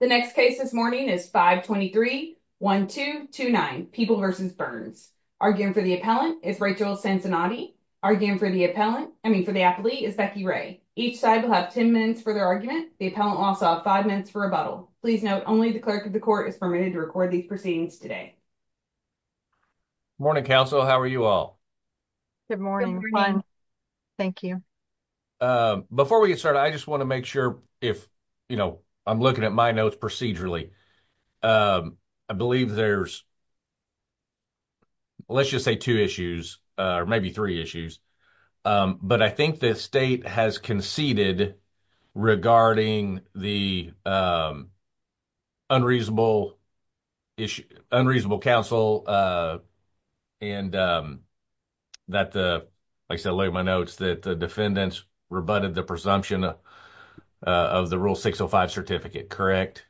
The next case this morning is 523-1229, People v. Burns. Arguing for the appellant is Rachel Cincinnati. Arguing for the appellant, I mean for the athlete, is Becky Ray. Each side will have 10 minutes for their argument. The appellant will also have 5 minutes for rebuttal. Please note, only the clerk of the court is permitted to record these proceedings today. Morning, counsel. How are you all? Good morning. Thank you. Before we get started, I just want to make sure if, you know, I'm looking at my notes procedurally. I believe there's, let's just say two issues, or maybe three issues. But I think the state has conceded regarding the unreasonable issue, unreasonable counsel, and that the, like I said, looking at my notes, that the defendants rebutted the presumption of the Rule 605 certificate, correct?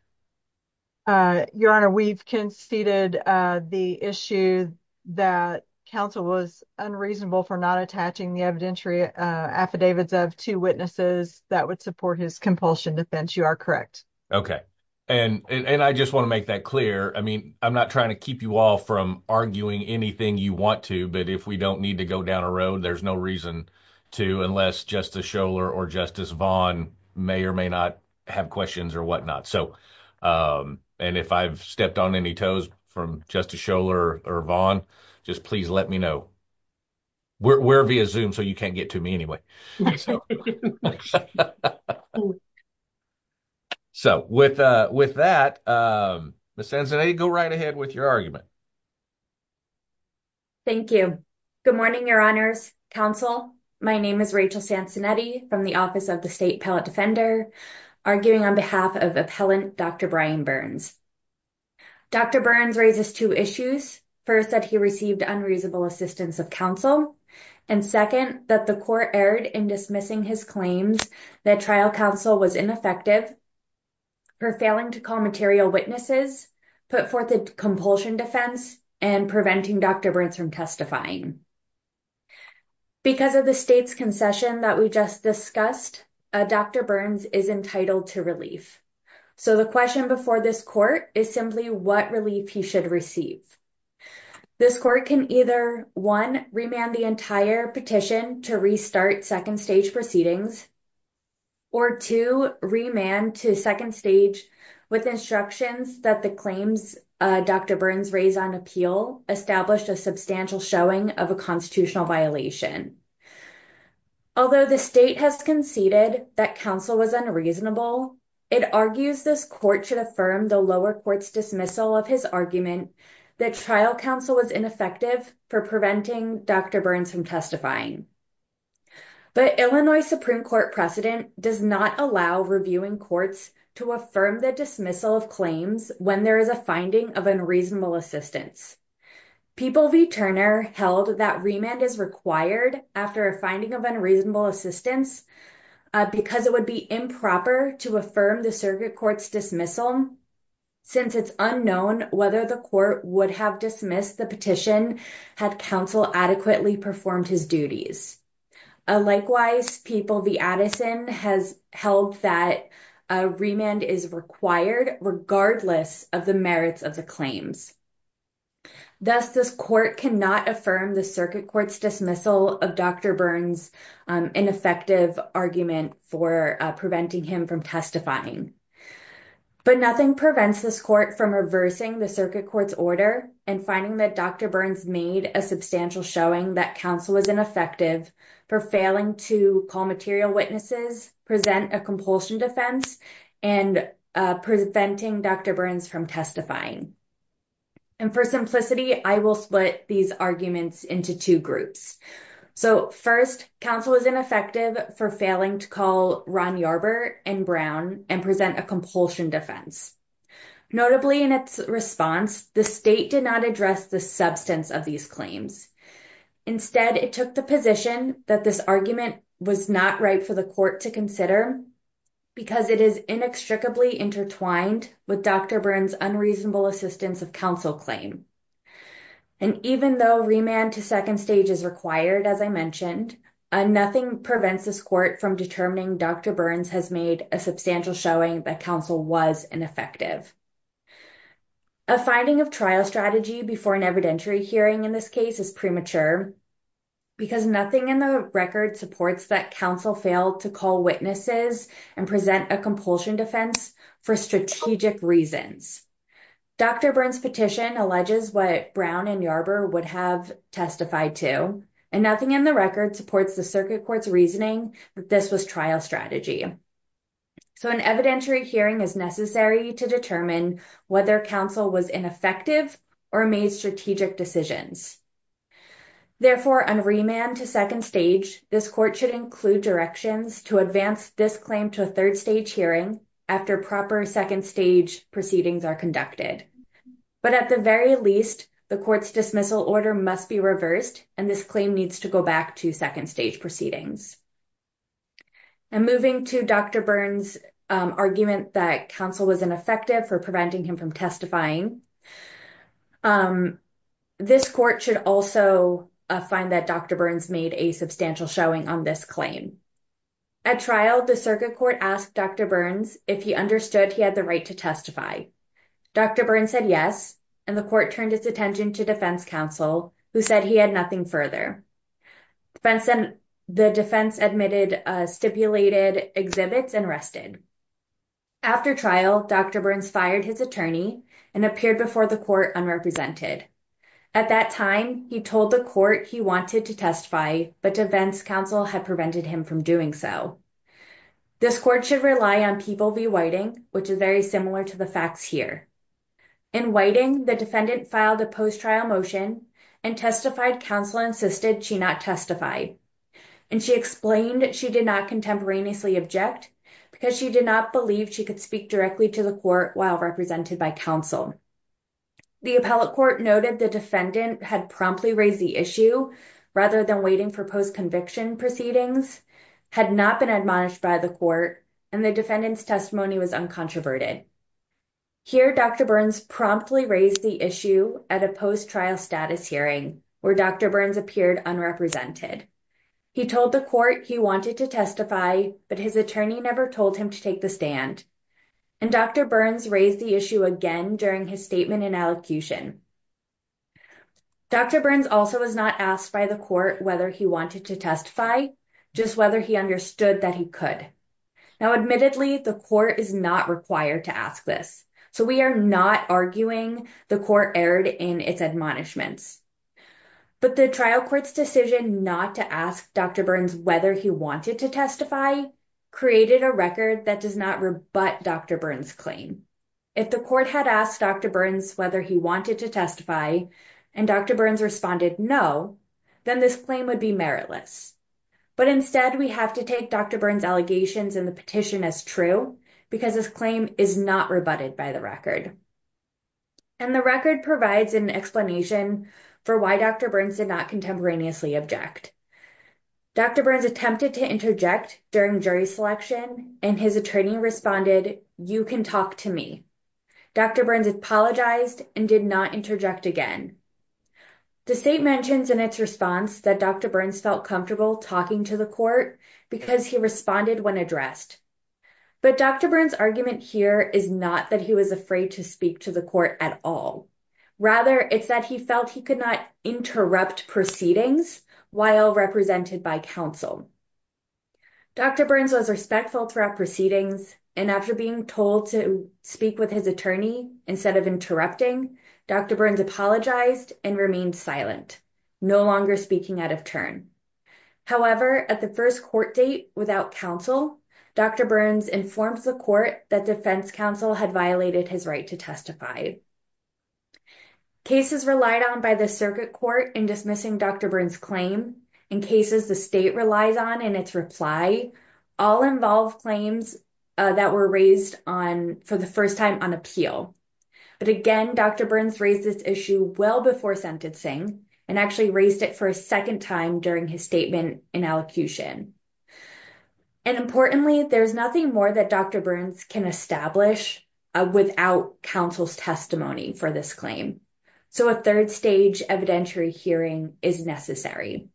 Your Honor, we've conceded the issue that counsel was unreasonable for not attaching the evidentiary affidavits of two witnesses. That would support his compulsion defense. You are correct. Okay. And I just want to make that clear. I mean, I'm not trying to keep you all from arguing anything you want to. But if we don't need to go down a road, there's no reason to, unless Justice Scholar or Justice Vaughn may or may not have questions or whatnot. So, and if I've stepped on any toes from Justice Scholar or Vaughn, just please let me know. We're via Zoom, so you can't get to me anyway. So, with that, Ms. Sansonetti, go right ahead with your argument. Thank you. Good morning, Your Honors, Counsel. My name is Rachel Sansonetti from the Office of the State Appellate Defender, arguing on behalf of Appellant Dr. Brian Burns. Dr. Burns raises two issues. First, that he received unreasonable assistance of counsel. And second, that the court erred in dismissing his claims that trial counsel was ineffective for failing to call material witnesses, put forth a compulsion defense, and preventing Dr. Burns from testifying. Because of the state's concession that we just discussed, Dr. Burns is entitled to relief. So the question before this court is simply what relief he should receive. This court can either, one, remand the entire petition to restart second stage proceedings. Or two, remand to second stage with instructions that the claims Dr. Burns raised on appeal established a substantial showing of a constitutional violation. Although the state has conceded that counsel was unreasonable, it argues this court should affirm the lower court's dismissal of his argument that trial counsel was ineffective for preventing Dr. Burns from testifying. But Illinois Supreme Court precedent does not allow reviewing courts to affirm the dismissal of claims when there is a finding of unreasonable assistance. People v. Turner held that remand is required after a finding of unreasonable assistance because it would be improper to affirm the circuit court's dismissal since it's unknown whether the court would have dismissed the petition had counsel adequately performed his duties. Likewise, People v. Addison has held that remand is required regardless of the merits of the claims. Thus, this court cannot affirm the circuit court's dismissal of Dr. Burns' ineffective argument for preventing him from testifying. But nothing prevents this court from reversing the circuit court's order and finding that Dr. Burns made a substantial showing that counsel was ineffective for failing to call material witnesses, present a compulsion defense, and preventing Dr. Burns from testifying. And for simplicity, I will split these arguments into two groups. So first, counsel was ineffective for failing to call Ron Yarber and Brown and present a compulsion defense. Notably, in its response, the state did not address the substance of these claims. Instead, it took the position that this argument was not right for the court to consider because it is inextricably intertwined with Dr. Burns' unreasonable assistance of counsel claim. And even though remand to second stage is required, as I mentioned, nothing prevents this court from determining Dr. Burns has made a substantial showing that counsel was ineffective. A finding of trial strategy before an evidentiary hearing in this case is premature because nothing in the record supports that counsel failed to call witnesses and present a compulsion defense for strategic reasons. Dr. Burns' petition alleges what Brown and Yarber would have testified to, and nothing in the record supports the circuit court's reasoning that this was trial strategy. So an evidentiary hearing is necessary to determine whether counsel was ineffective or made strategic decisions. Therefore, on remand to second stage, this court should include directions to advance this claim to a third stage hearing after proper second stage proceedings are conducted. But at the very least, the court's dismissal order must be reversed, and this claim needs to go back to second stage proceedings. And moving to Dr. Burns' argument that counsel was ineffective for preventing him from testifying, this court should also find that Dr. Burns made a substantial showing on this claim. At trial, the circuit court asked Dr. Burns if he understood he had the right to testify. Dr. Burns said yes, and the court turned its attention to defense counsel, who said he had nothing further. The defense admitted stipulated exhibits and rested. After trial, Dr. Burns fired his attorney and appeared before the court unrepresented. At that time, he told the court he wanted to testify, but defense counsel had prevented him from doing so. This court should rely on people v. Whiting, which is very similar to the facts here. In Whiting, the defendant filed a post-trial motion and testified counsel insisted she not testify, and she explained she did not contemporaneously object because she did not believe she could speak directly to the court while represented by counsel. The appellate court noted the defendant had promptly raised the issue rather than waiting for post-conviction proceedings, had not been admonished by the court, and the defendant's testimony was uncontroverted. Here, Dr. Burns promptly raised the issue at a post-trial status hearing, where Dr. Burns appeared unrepresented. He told the court he wanted to testify, but his attorney never told him to take the stand. And Dr. Burns raised the issue again during his statement in elocution. Dr. Burns also was not asked by the court whether he wanted to testify, just whether he understood that he could. Now, admittedly, the court is not required to ask this, so we are not arguing the court erred in its admonishments. But the trial court's decision not to ask Dr. Burns whether he wanted to testify created a record that does not rebut Dr. Burns' claim. If the court had asked Dr. Burns whether he wanted to testify, and Dr. Burns responded no, then this claim would be meritless. But instead, we have to take Dr. Burns' allegations in the petition as true, because his claim is not rebutted by the record. And the record provides an explanation for why Dr. Burns did not contemporaneously object. Dr. Burns attempted to interject during jury selection, and his attorney responded, Dr. Burns apologized and did not interject again. The state mentions in its response that Dr. Burns felt comfortable talking to the court because he responded when addressed. But Dr. Burns' argument here is not that he was afraid to speak to the court at all. Rather, it's that he felt he could not interrupt proceedings while represented by counsel. Dr. Burns was respectful throughout proceedings, and after being told to speak with his attorney instead of interrupting, Dr. Burns apologized and remained silent, no longer speaking out of turn. However, at the first court date without counsel, Dr. Burns informed the court that defense counsel had violated his right to testify. Cases relied on by the circuit court in dismissing Dr. Burns' claim and cases the state relies on in its reply all involve claims that were raised for the first time on appeal. But again, Dr. Burns raised this issue well before sentencing and actually raised it for a second time during his statement in elocution. And importantly, there's nothing more that Dr. Burns can establish without counsel's testimony for this claim. So a third stage evidentiary hearing is necessary.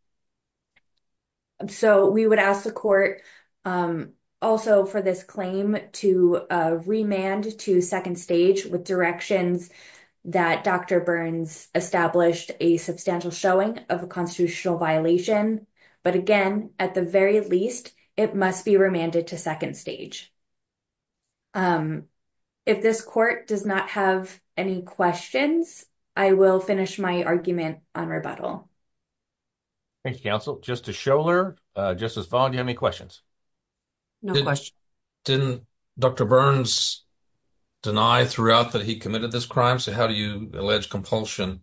So we would ask the court also for this claim to remand to second stage with directions that Dr. Burns established a substantial showing of a constitutional violation. But again, at the very least, it must be remanded to second stage. If this court does not have any questions, I will finish my argument on rebuttal. Thank you, counsel. Just to show her, Justice Fong, do you have any questions? No questions. Didn't Dr. Burns deny throughout that he committed this crime? So how do you allege compulsion,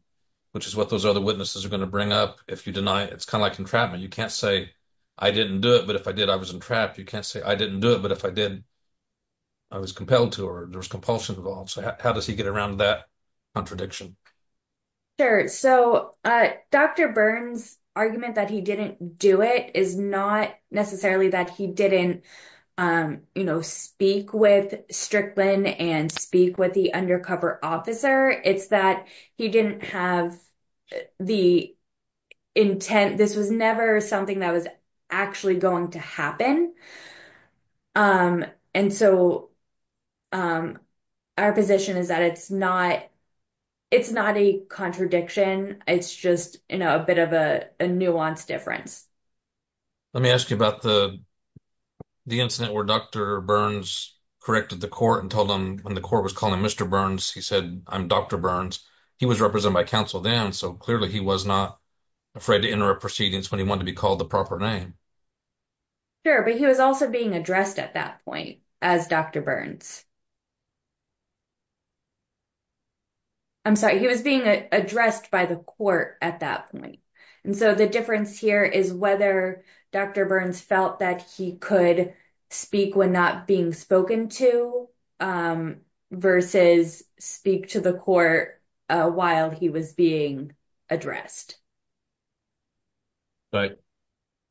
which is what those other witnesses are going to bring up if you deny it? It's kind of like entrapment. You can't say I didn't do it, but if I did, I was entrapped. You can't say I didn't do it, but if I did, I was compelled to or there was compulsion involved. So how does he get around that contradiction? Sure. So Dr. Burns' argument that he didn't do it is not necessarily that he didn't speak with Strickland and speak with the undercover officer. It's that he didn't have the intent. This was never something that was actually going to happen. And so our position is that it's not a contradiction. It's just a bit of a nuanced difference. Let me ask you about the incident where Dr. Burns corrected the court and told them when the court was calling Mr. Burns, he said, I'm Dr. Burns. He was represented by counsel then, so clearly he was not afraid to interrupt proceedings when he wanted to be called the proper name. Sure, but he was also being addressed at that point as Dr. Burns. I'm sorry, he was being addressed by the court at that point. And so the difference here is whether Dr. Burns felt that he could speak when not being spoken to versus speak to the court while he was being addressed. But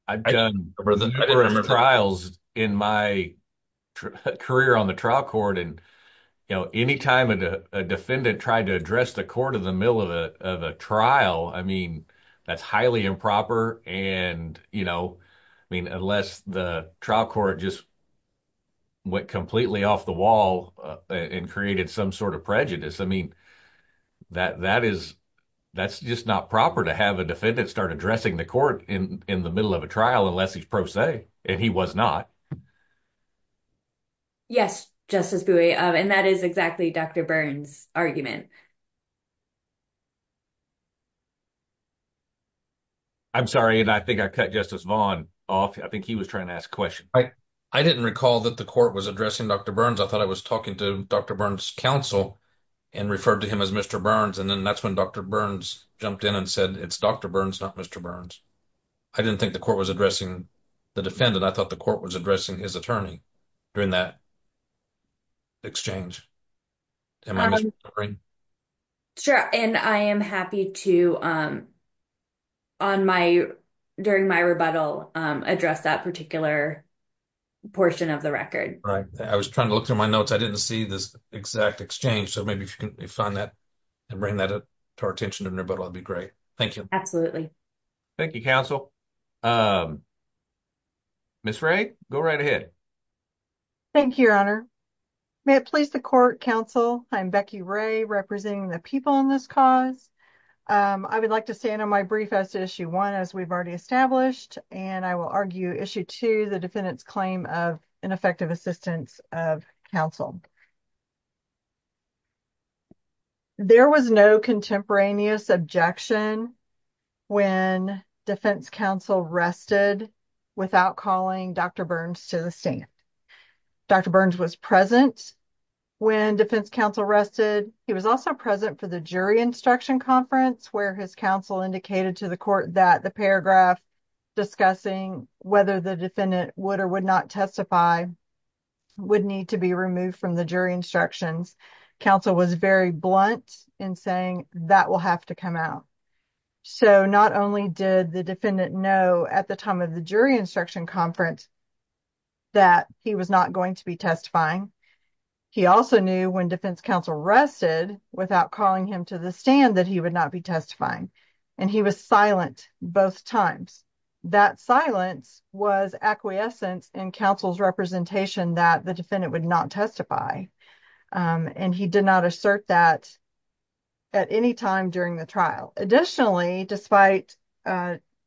I've done numerous trials in my career on the trial court, and anytime a defendant tried to address the court in the middle of a trial, I mean, that's highly improper. I mean, unless the trial court just went completely off the wall and created some sort of prejudice, I mean, that's just not proper to have a defendant start addressing the court in the middle of a trial unless he's pro se, and he was not. Yes, Justice Bui, and that is exactly Dr. Burns' argument. I'm sorry, and I think I cut Justice Vaughn off. I think he was trying to ask a question. I didn't recall that the court was addressing Dr. Burns. I thought I was talking to Dr. Burns' counsel and referred to him as Mr. Burns, and then that's when Dr. Burns jumped in and said, it's Dr. Burns, not Mr. Burns. I didn't think the court was addressing the defendant. I thought the court was addressing his attorney during that exchange. Sure, and I am happy to, during my rebuttal, address that particular portion of the record. Right. I was trying to look through my notes. I didn't see this exact exchange, so maybe if you can find that and bring that to our attention in the rebuttal, that would be great. Thank you. Thank you, counsel. Ms. Wray, go right ahead. Thank you, Your Honor. May it please the court, counsel, I'm Becky Wray, representing the people in this cause. I would like to stand on my brief as to Issue 1, as we've already established, and I will argue Issue 2, the defendant's claim of ineffective assistance of counsel. There was no contemporaneous objection when defense counsel rested without calling Dr. Burns to the stand. Dr. Burns was present when defense counsel rested. He was also present for the jury instruction conference, where his counsel indicated to the court that the paragraph discussing whether the defendant would or would not testify would need to be removed from the case. When the defense counsel withdrew from the jury instructions, counsel was very blunt in saying that will have to come out. So, not only did the defendant know at the time of the jury instruction conference that he was not going to be testifying, he also knew when defense counsel rested without calling him to the stand that he would not be testifying, and he was silent both times. That silence was acquiescence in counsel's representation that the defendant would not testify, and he did not assert that at any time during the trial. Additionally, despite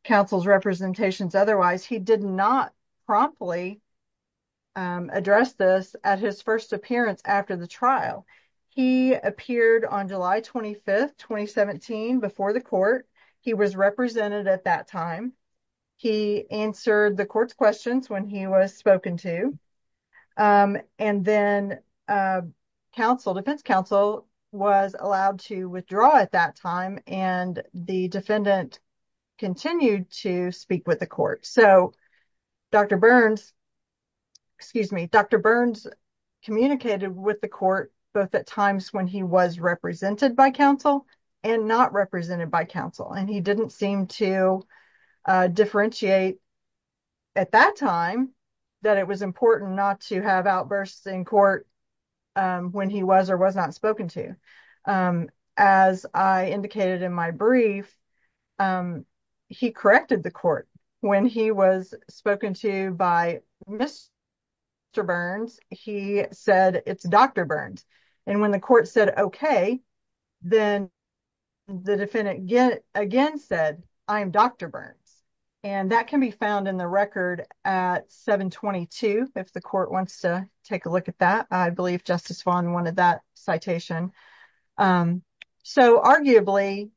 counsel's representations otherwise, he did not promptly address this at his first appearance after the trial. He appeared on July 25, 2017, before the court. He was represented at that time. He answered the court's questions when he was spoken to, and then defense counsel was allowed to withdraw at that time, and the defendant continued to speak with the court. So, Dr. Burns, excuse me, Dr. Burns communicated with the court both at times when he was represented by counsel and not represented by counsel, and he didn't seem to differentiate at that time that it was important not to have outbursts in court when he was or was not spoken to. As I indicated in my brief, he corrected the court when he was spoken to by Mr. Burns. He said it's Dr. Burns, and when the court said okay, then the defendant again said, I'm Dr. Burns, and that can be found in the record at 722 if the court wants to take a look at that. I believe Justice Vaughn wanted that citation. So, arguably,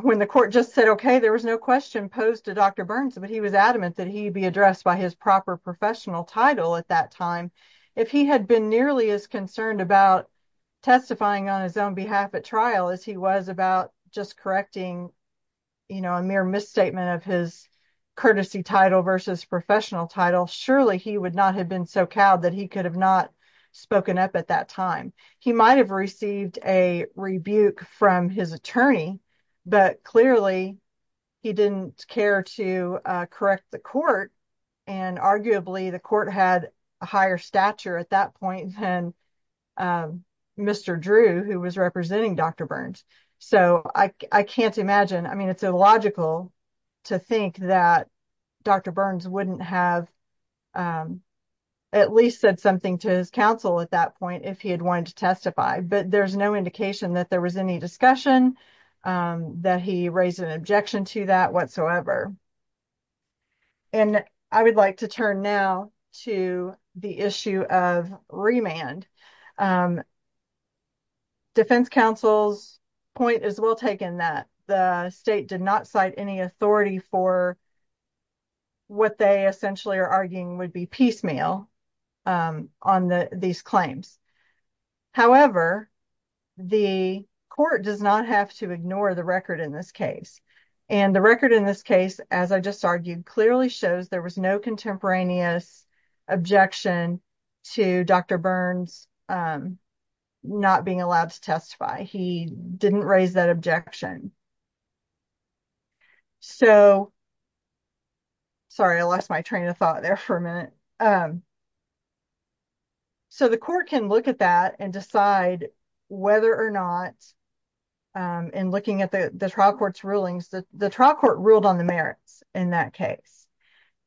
when the court just said okay, there was no question posed to Dr. Burns, but he was adamant that he be addressed by his proper professional title at that time. If he had been nearly as concerned about testifying on his own behalf at trial as he was about just correcting, you know, a mere misstatement of his courtesy title versus professional title, surely he would not have been so cowed that he could have not spoken up at that time. He might have received a rebuke from his attorney, but clearly he didn't care to correct the court, and arguably the court had a higher stature at that point than Mr. Drew, who was representing Dr. Burns. So, I can't imagine. I mean, it's illogical to think that Dr. Burns wouldn't have at least said something to his counsel at that point if he had wanted to testify, but there's no indication that there was any discussion, that he raised an objection to that whatsoever. And I would like to turn now to the issue of remand. Defense counsel's point is well taken that the state did not cite any authority for what they essentially are arguing would be piecemeal on these claims. However, the court does not have to ignore the record in this case. And the record in this case, as I just argued, clearly shows there was no contemporaneous objection to Dr. Burns not being allowed to testify. He didn't raise that objection. So, sorry, I lost my train of thought there for a minute. So, the court can look at that and decide whether or not, in looking at the trial court's rulings, the trial court ruled on the merits in that case.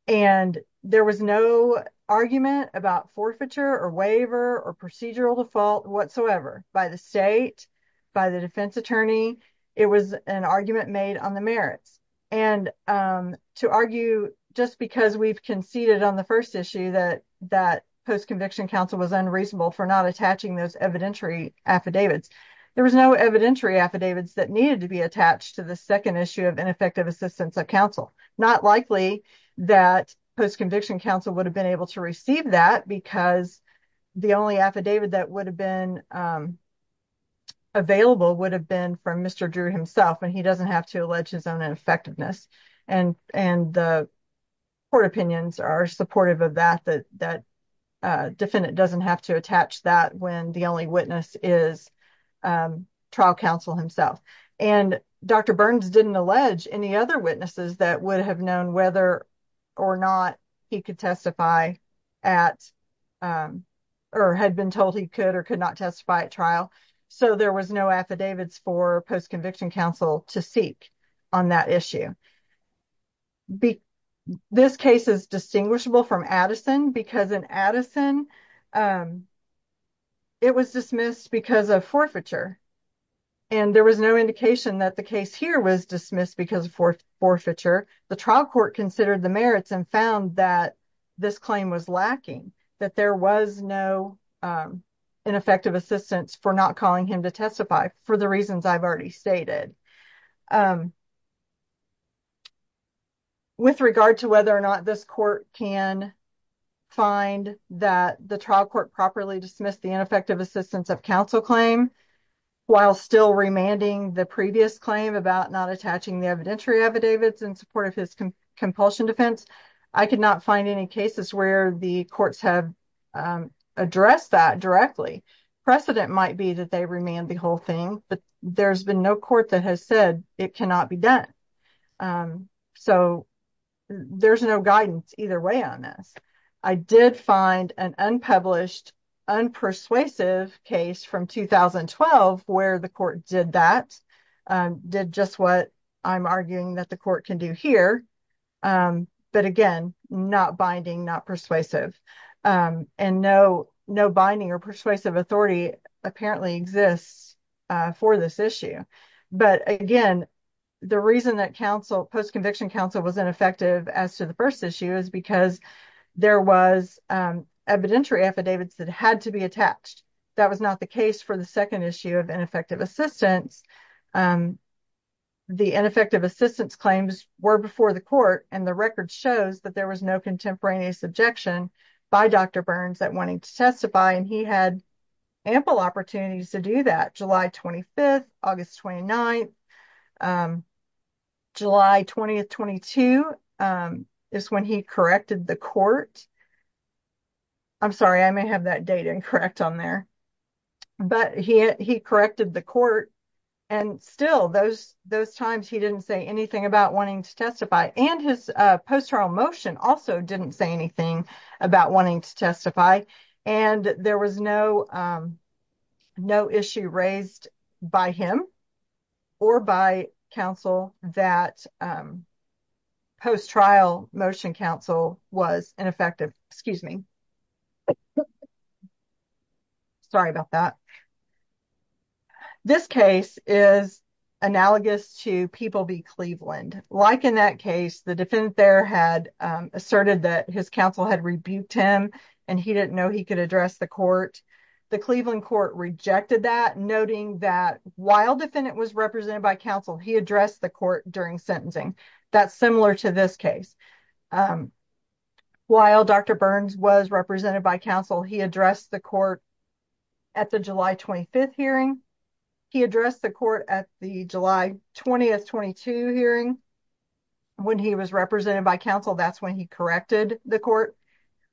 And there was no argument about forfeiture or waiver or procedural default whatsoever by the state, by the defense attorney. It was an argument made on the merits. And to argue just because we've conceded on the first issue that that post-conviction counsel was unreasonable for not attaching those evidentiary affidavits. There was no evidentiary affidavits that needed to be attached to the second issue of ineffective assistance of counsel. Not likely that post-conviction counsel would have been able to receive that because the only affidavit that would have been available would have been from Mr. Drew himself. And he doesn't have to allege his own ineffectiveness. And the court opinions are supportive of that. That defendant doesn't have to attach that when the only witness is trial counsel himself. And Dr. Burns didn't allege any other witnesses that would have known whether or not he could testify at or had been told he could or could not testify at trial. So, there was no affidavits for post-conviction counsel to seek on that issue. This case is distinguishable from Addison because in Addison it was dismissed because of forfeiture. And there was no indication that the case here was dismissed because of forfeiture. The trial court considered the merits and found that this claim was lacking, that there was no ineffective assistance for not calling him to testify for the reasons I've already stated. With regard to whether or not this court can find that the trial court properly dismissed the ineffective assistance of counsel claim, while still remanding the previous claim about not attaching the evidentiary affidavits in support of his compulsion defense, I could not find any cases where the courts have addressed that directly. Precedent might be that they remand the whole thing, but there's been no court that has said it cannot be done. So, there's no guidance either way on this. I did find an unpublished, unpersuasive case from 2012 where the court did that, did just what I'm arguing that the court can do here. But again, not binding, not persuasive. And no binding or persuasive authority apparently exists for this issue. But again, the reason that post-conviction counsel was ineffective as to the first issue is because there was evidentiary affidavits that had to be attached. That was not the case for the second issue of ineffective assistance. The ineffective assistance claims were before the court, and the record shows that there was no contemporaneous objection by Dr. Burns at wanting to testify, and he had ample opportunities to do that. July 25th, August 29th, July 20th, 22 is when he corrected the court. I'm sorry, I may have that data incorrect on there. But he corrected the court, and still those times he didn't say anything about wanting to testify. And his post-trial motion also didn't say anything about wanting to testify. And there was no issue raised by him or by counsel that post-trial motion counsel was ineffective. Excuse me. Sorry about that. This case is analogous to People v. Cleveland. Like in that case, the defendant there had asserted that his counsel had rebuked him, and he didn't know he could address the court. The Cleveland court rejected that, noting that while defendant was represented by counsel, he addressed the court during sentencing. That's similar to this case. While Dr. Burns was represented by counsel, he addressed the court at the July 25th hearing. He addressed the court at the July 20th, 22 hearing. When he was represented by counsel, that's when he corrected the court.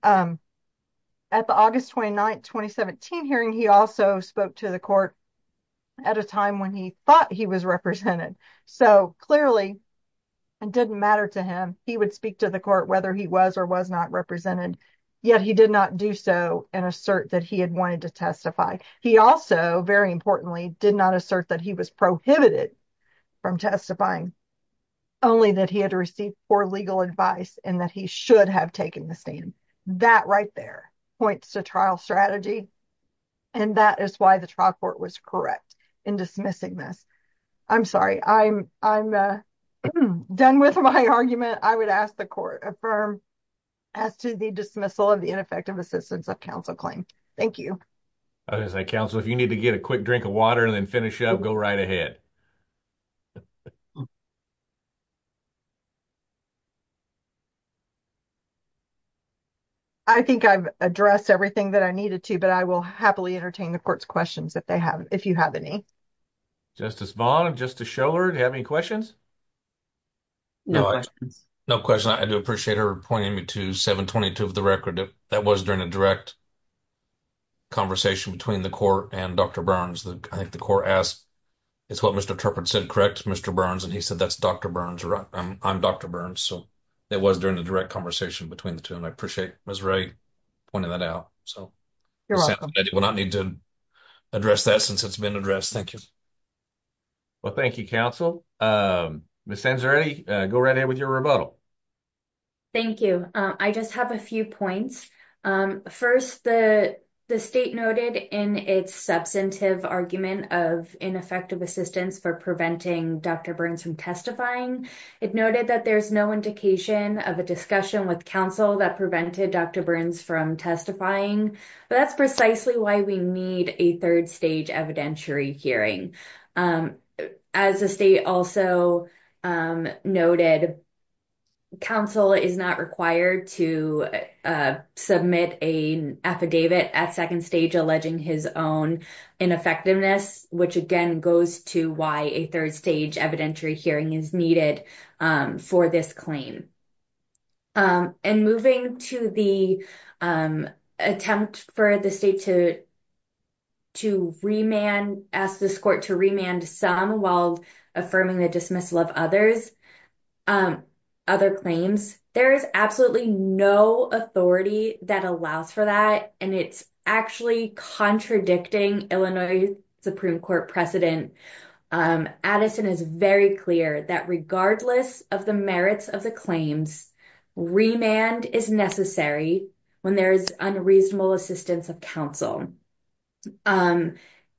At the August 29th, 2017 hearing, he also spoke to the court at a time when he thought he was represented. So clearly, it didn't matter to him. He would speak to the court whether he was or was not represented. Yet he did not do so and assert that he had wanted to testify. He also, very importantly, did not assert that he was prohibited from testifying, only that he had received poor legal advice and that he should have taken the stand. That right there points to trial strategy, and that is why the trial court was correct in dismissing this. I'm sorry. I'm done with my argument. I would ask the court affirm as to the dismissal of the ineffective assistance of counsel claim. Thank you. As I counsel, if you need to get a quick drink of water and then finish up, go right ahead. I think I've addressed everything that I needed to, but I will happily entertain the court's questions if you have any. Justice Vaughn, Justice Scholar, do you have any questions? No questions. No questions. I do appreciate her pointing me to 722 of the record. That was during a direct conversation between the court and Dr. Burns. I think the court asked, it's what Mr. Turpin said, correct, Mr. Burns? And he said, that's Dr. Burns, right? I'm Dr. Burns. So, it was during a direct conversation between the two, and I appreciate Ms. Ray pointing that out. You're welcome. I will not need to address that since it's been addressed. Thank you. Well, thank you, counsel. Ms. Sansare, go right ahead with your rebuttal. Thank you. I just have a few points. First, the state noted in its substantive argument of ineffective assistance for preventing Dr. Burns from testifying, it noted that there's no indication of a discussion with counsel that prevented Dr. Burns from testifying. That's precisely why we need a third stage evidentiary hearing. As the state also noted, counsel is not required to submit an affidavit at second stage alleging his own ineffectiveness, which again goes to why a third stage evidentiary hearing is needed for this claim. And moving to the attempt for the state to ask this court to remand some while affirming the dismissal of other claims, there is absolutely no authority that allows for that, and it's actually contradicting Illinois Supreme Court precedent. Addison is very clear that regardless of the merits of the claims, remand is necessary when there is unreasonable assistance of counsel. And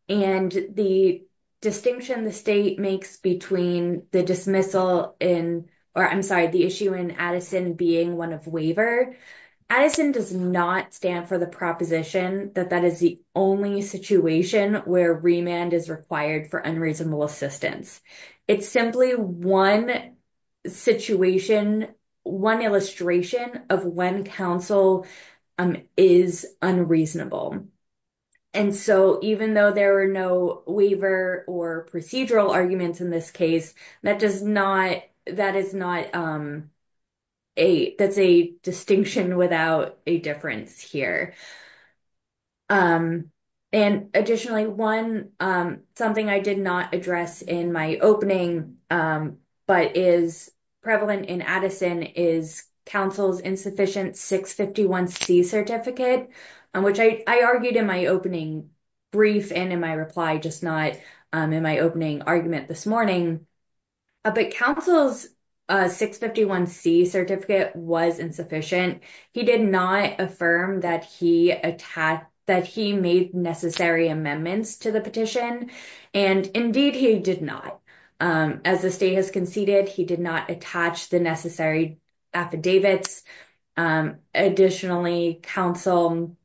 the distinction the state makes between the dismissal in, or I'm sorry, the issue in Addison being one of waiver, Addison does not stand for the proposition that that is the only situation where remand is required for unreasonable assistance. It's simply one situation, one illustration of when counsel is unreasonable. And so even though there were no waiver or procedural arguments in this case, that does not, that is not a, that's a distinction without a difference here. And additionally, one, something I did not address in my opening, but is prevalent in Addison, is counsel's insufficient 651C certificate, which I argued in my opening brief and in my reply, just not in my opening argument this morning. But counsel's 651C certificate was insufficient. He did not affirm that he attached, that he made necessary amendments to the petition. And indeed he did not. As the state has conceded, he did not attach the necessary affidavits. Additionally, counsel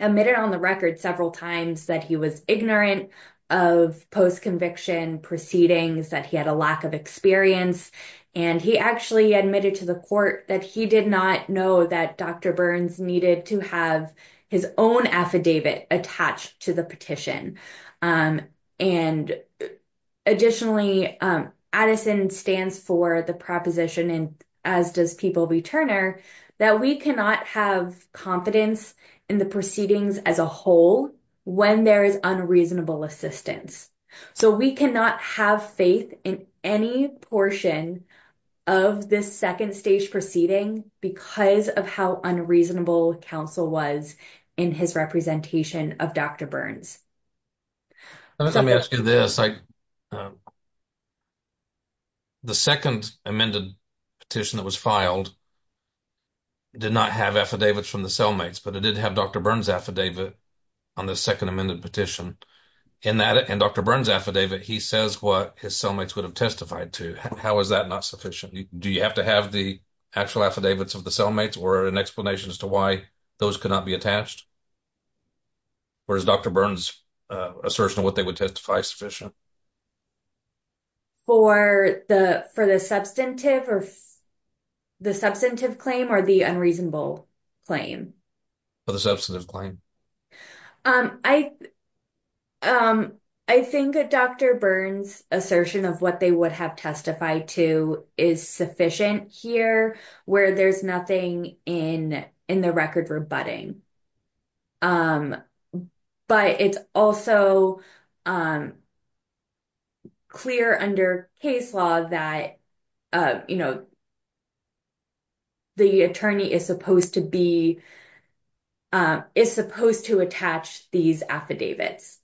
admitted on the record several times that he was ignorant of post-conviction proceedings, that he had a lack of experience. And he actually admitted to the court that he did not know that Dr. Burns needed to have his own affidavit attached to the petition. And additionally, Addison stands for the proposition, and as does People v. Turner, that we cannot have confidence in the proceedings as a whole when there is unreasonable assistance. So we cannot have faith in any portion of this second stage proceeding because of how unreasonable counsel was in his representation of Dr. Burns. Let me ask you this. The second amended petition that was filed did not have affidavits from the cellmates, but it did have Dr. Burns' affidavit on the second amended petition. In Dr. Burns' affidavit, he says what his cellmates would have testified to. How is that not sufficient? Do you have to have the actual affidavits of the cellmates or an explanation as to why those could not be attached? Or is Dr. Burns' assertion of what they would testify sufficient? For the substantive claim or the unreasonable claim? For the substantive claim. I think Dr. Burns' assertion of what they would have testified to is sufficient here where there's nothing in the record rebutting. But it's also clear under case law that the attorney is supposed to attach these affidavits.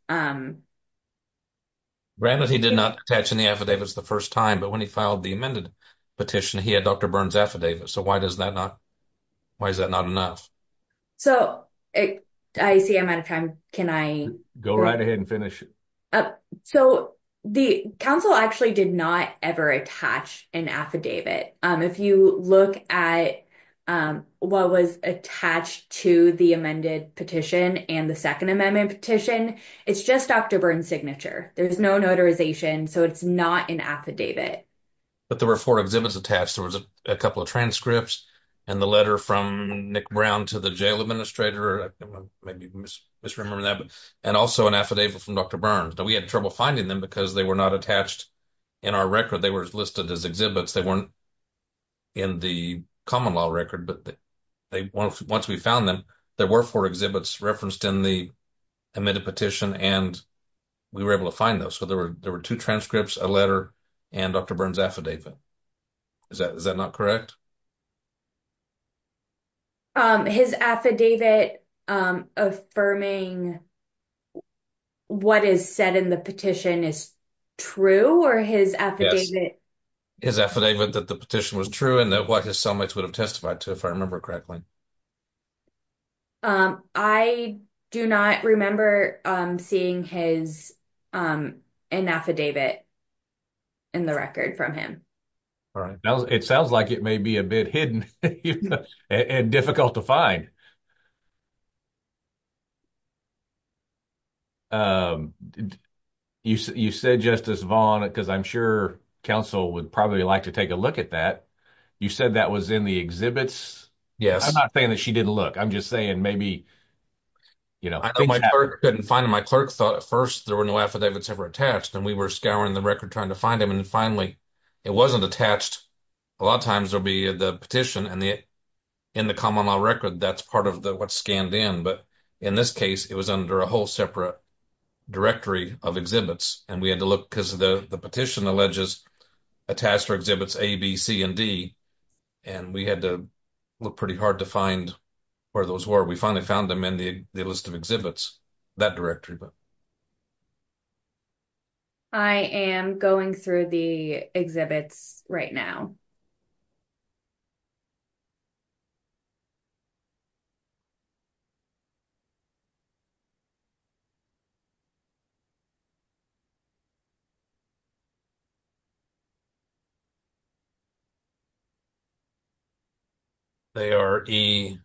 Granted, he did not attach any affidavits the first time, but when he filed the amended petition, he had Dr. Burns' affidavit. So why is that not enough? So I see I'm out of time. Can I go right ahead and finish? So the council actually did not ever attach an affidavit. If you look at what was attached to the amended petition and the second amendment petition, it's just Dr. Burns' signature. There's no notarization, so it's not an affidavit. But there were four exhibits attached. There was a couple of transcripts and the letter from Nick Brown to the jail administrator. I may be misremembering that. And also an affidavit from Dr. Burns. Now, we had trouble finding them because they were not attached in our record. They were listed as exhibits. They weren't in the common law record. But once we found them, there were four exhibits referenced in the amended petition, and we were able to find those. So there were there were two transcripts, a letter and Dr. Burns' affidavit. Is that is that not correct? His affidavit affirming what is said in the petition is true or his affidavit? His affidavit that the petition was true and that what his cellmates would have testified to, if I remember correctly. I do not remember seeing his affidavit in the record from him. All right. Now, it sounds like it may be a bit hidden and difficult to find. You said, Justice Vaughn, because I'm sure counsel would probably like to take a look at that. You said that was in the exhibits. Yes. I'm not saying that she didn't look. I'm just saying maybe, you know. I couldn't find my clerk thought at first there were no affidavits ever attached. And we were scouring the record trying to find him. And finally, it wasn't attached. A lot of times there'll be the petition and the in the common law record. That's part of what's scanned in. But in this case, it was under a whole separate directory of exhibits. And we had to look because the petition alleges attached for exhibits A, B, C, and D. And we had to look pretty hard to find where those were. We finally found them in the list of exhibits, that directory. I am going through the exhibits right now. They are E7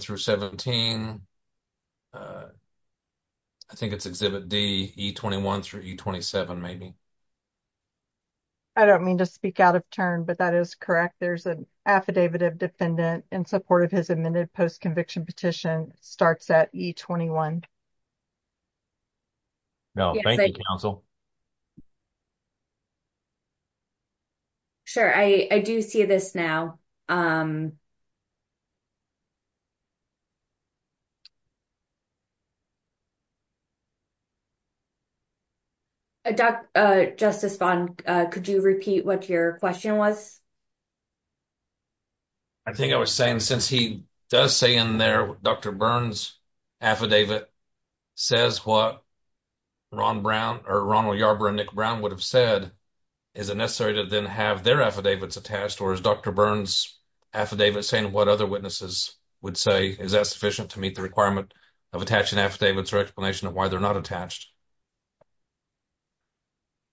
through 17. I think it's exhibit D, E21 through E27, maybe. I don't mean to speak out of turn, but that is correct. There's an affidavit of defendant in support of his amended post-conviction petition starts at E21. Thank you, counsel. Sure, I do see this now. Justice Vaughn, could you repeat what your question was? I think I was saying since he does say in their Dr. Burns affidavit says what Ron Brown or Ronald Yarbrough and Nick Brown would have said, is it necessary to then have their affidavits attached? Or is Dr. Burns affidavit saying what other witnesses would say? Is that sufficient to meet the requirement of attaching affidavits or explanation of why they're not attached?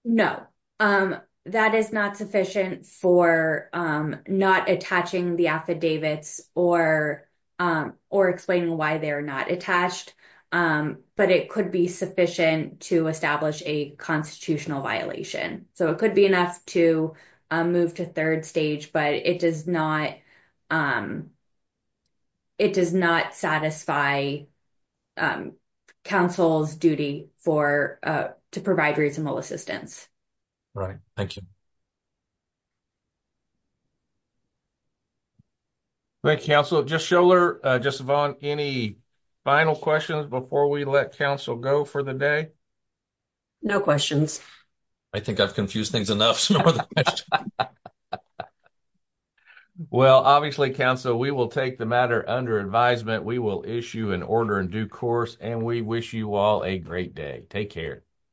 No, that is not sufficient for not attaching the affidavits or explaining why they're not attached. But it could be sufficient to establish a constitutional violation. So it could be enough to move to third stage, but it does not satisfy counsel's duty to provide reasonable assistance. Right. Thank you. Thank you, counsel. Justice Schiller, Justice Vaughn, any final questions before we let counsel go for the day? No questions. I think I've confused things enough. Well, obviously, counsel, we will take the matter under advisement. We will issue an order in due course, and we wish you all a great day. Take care.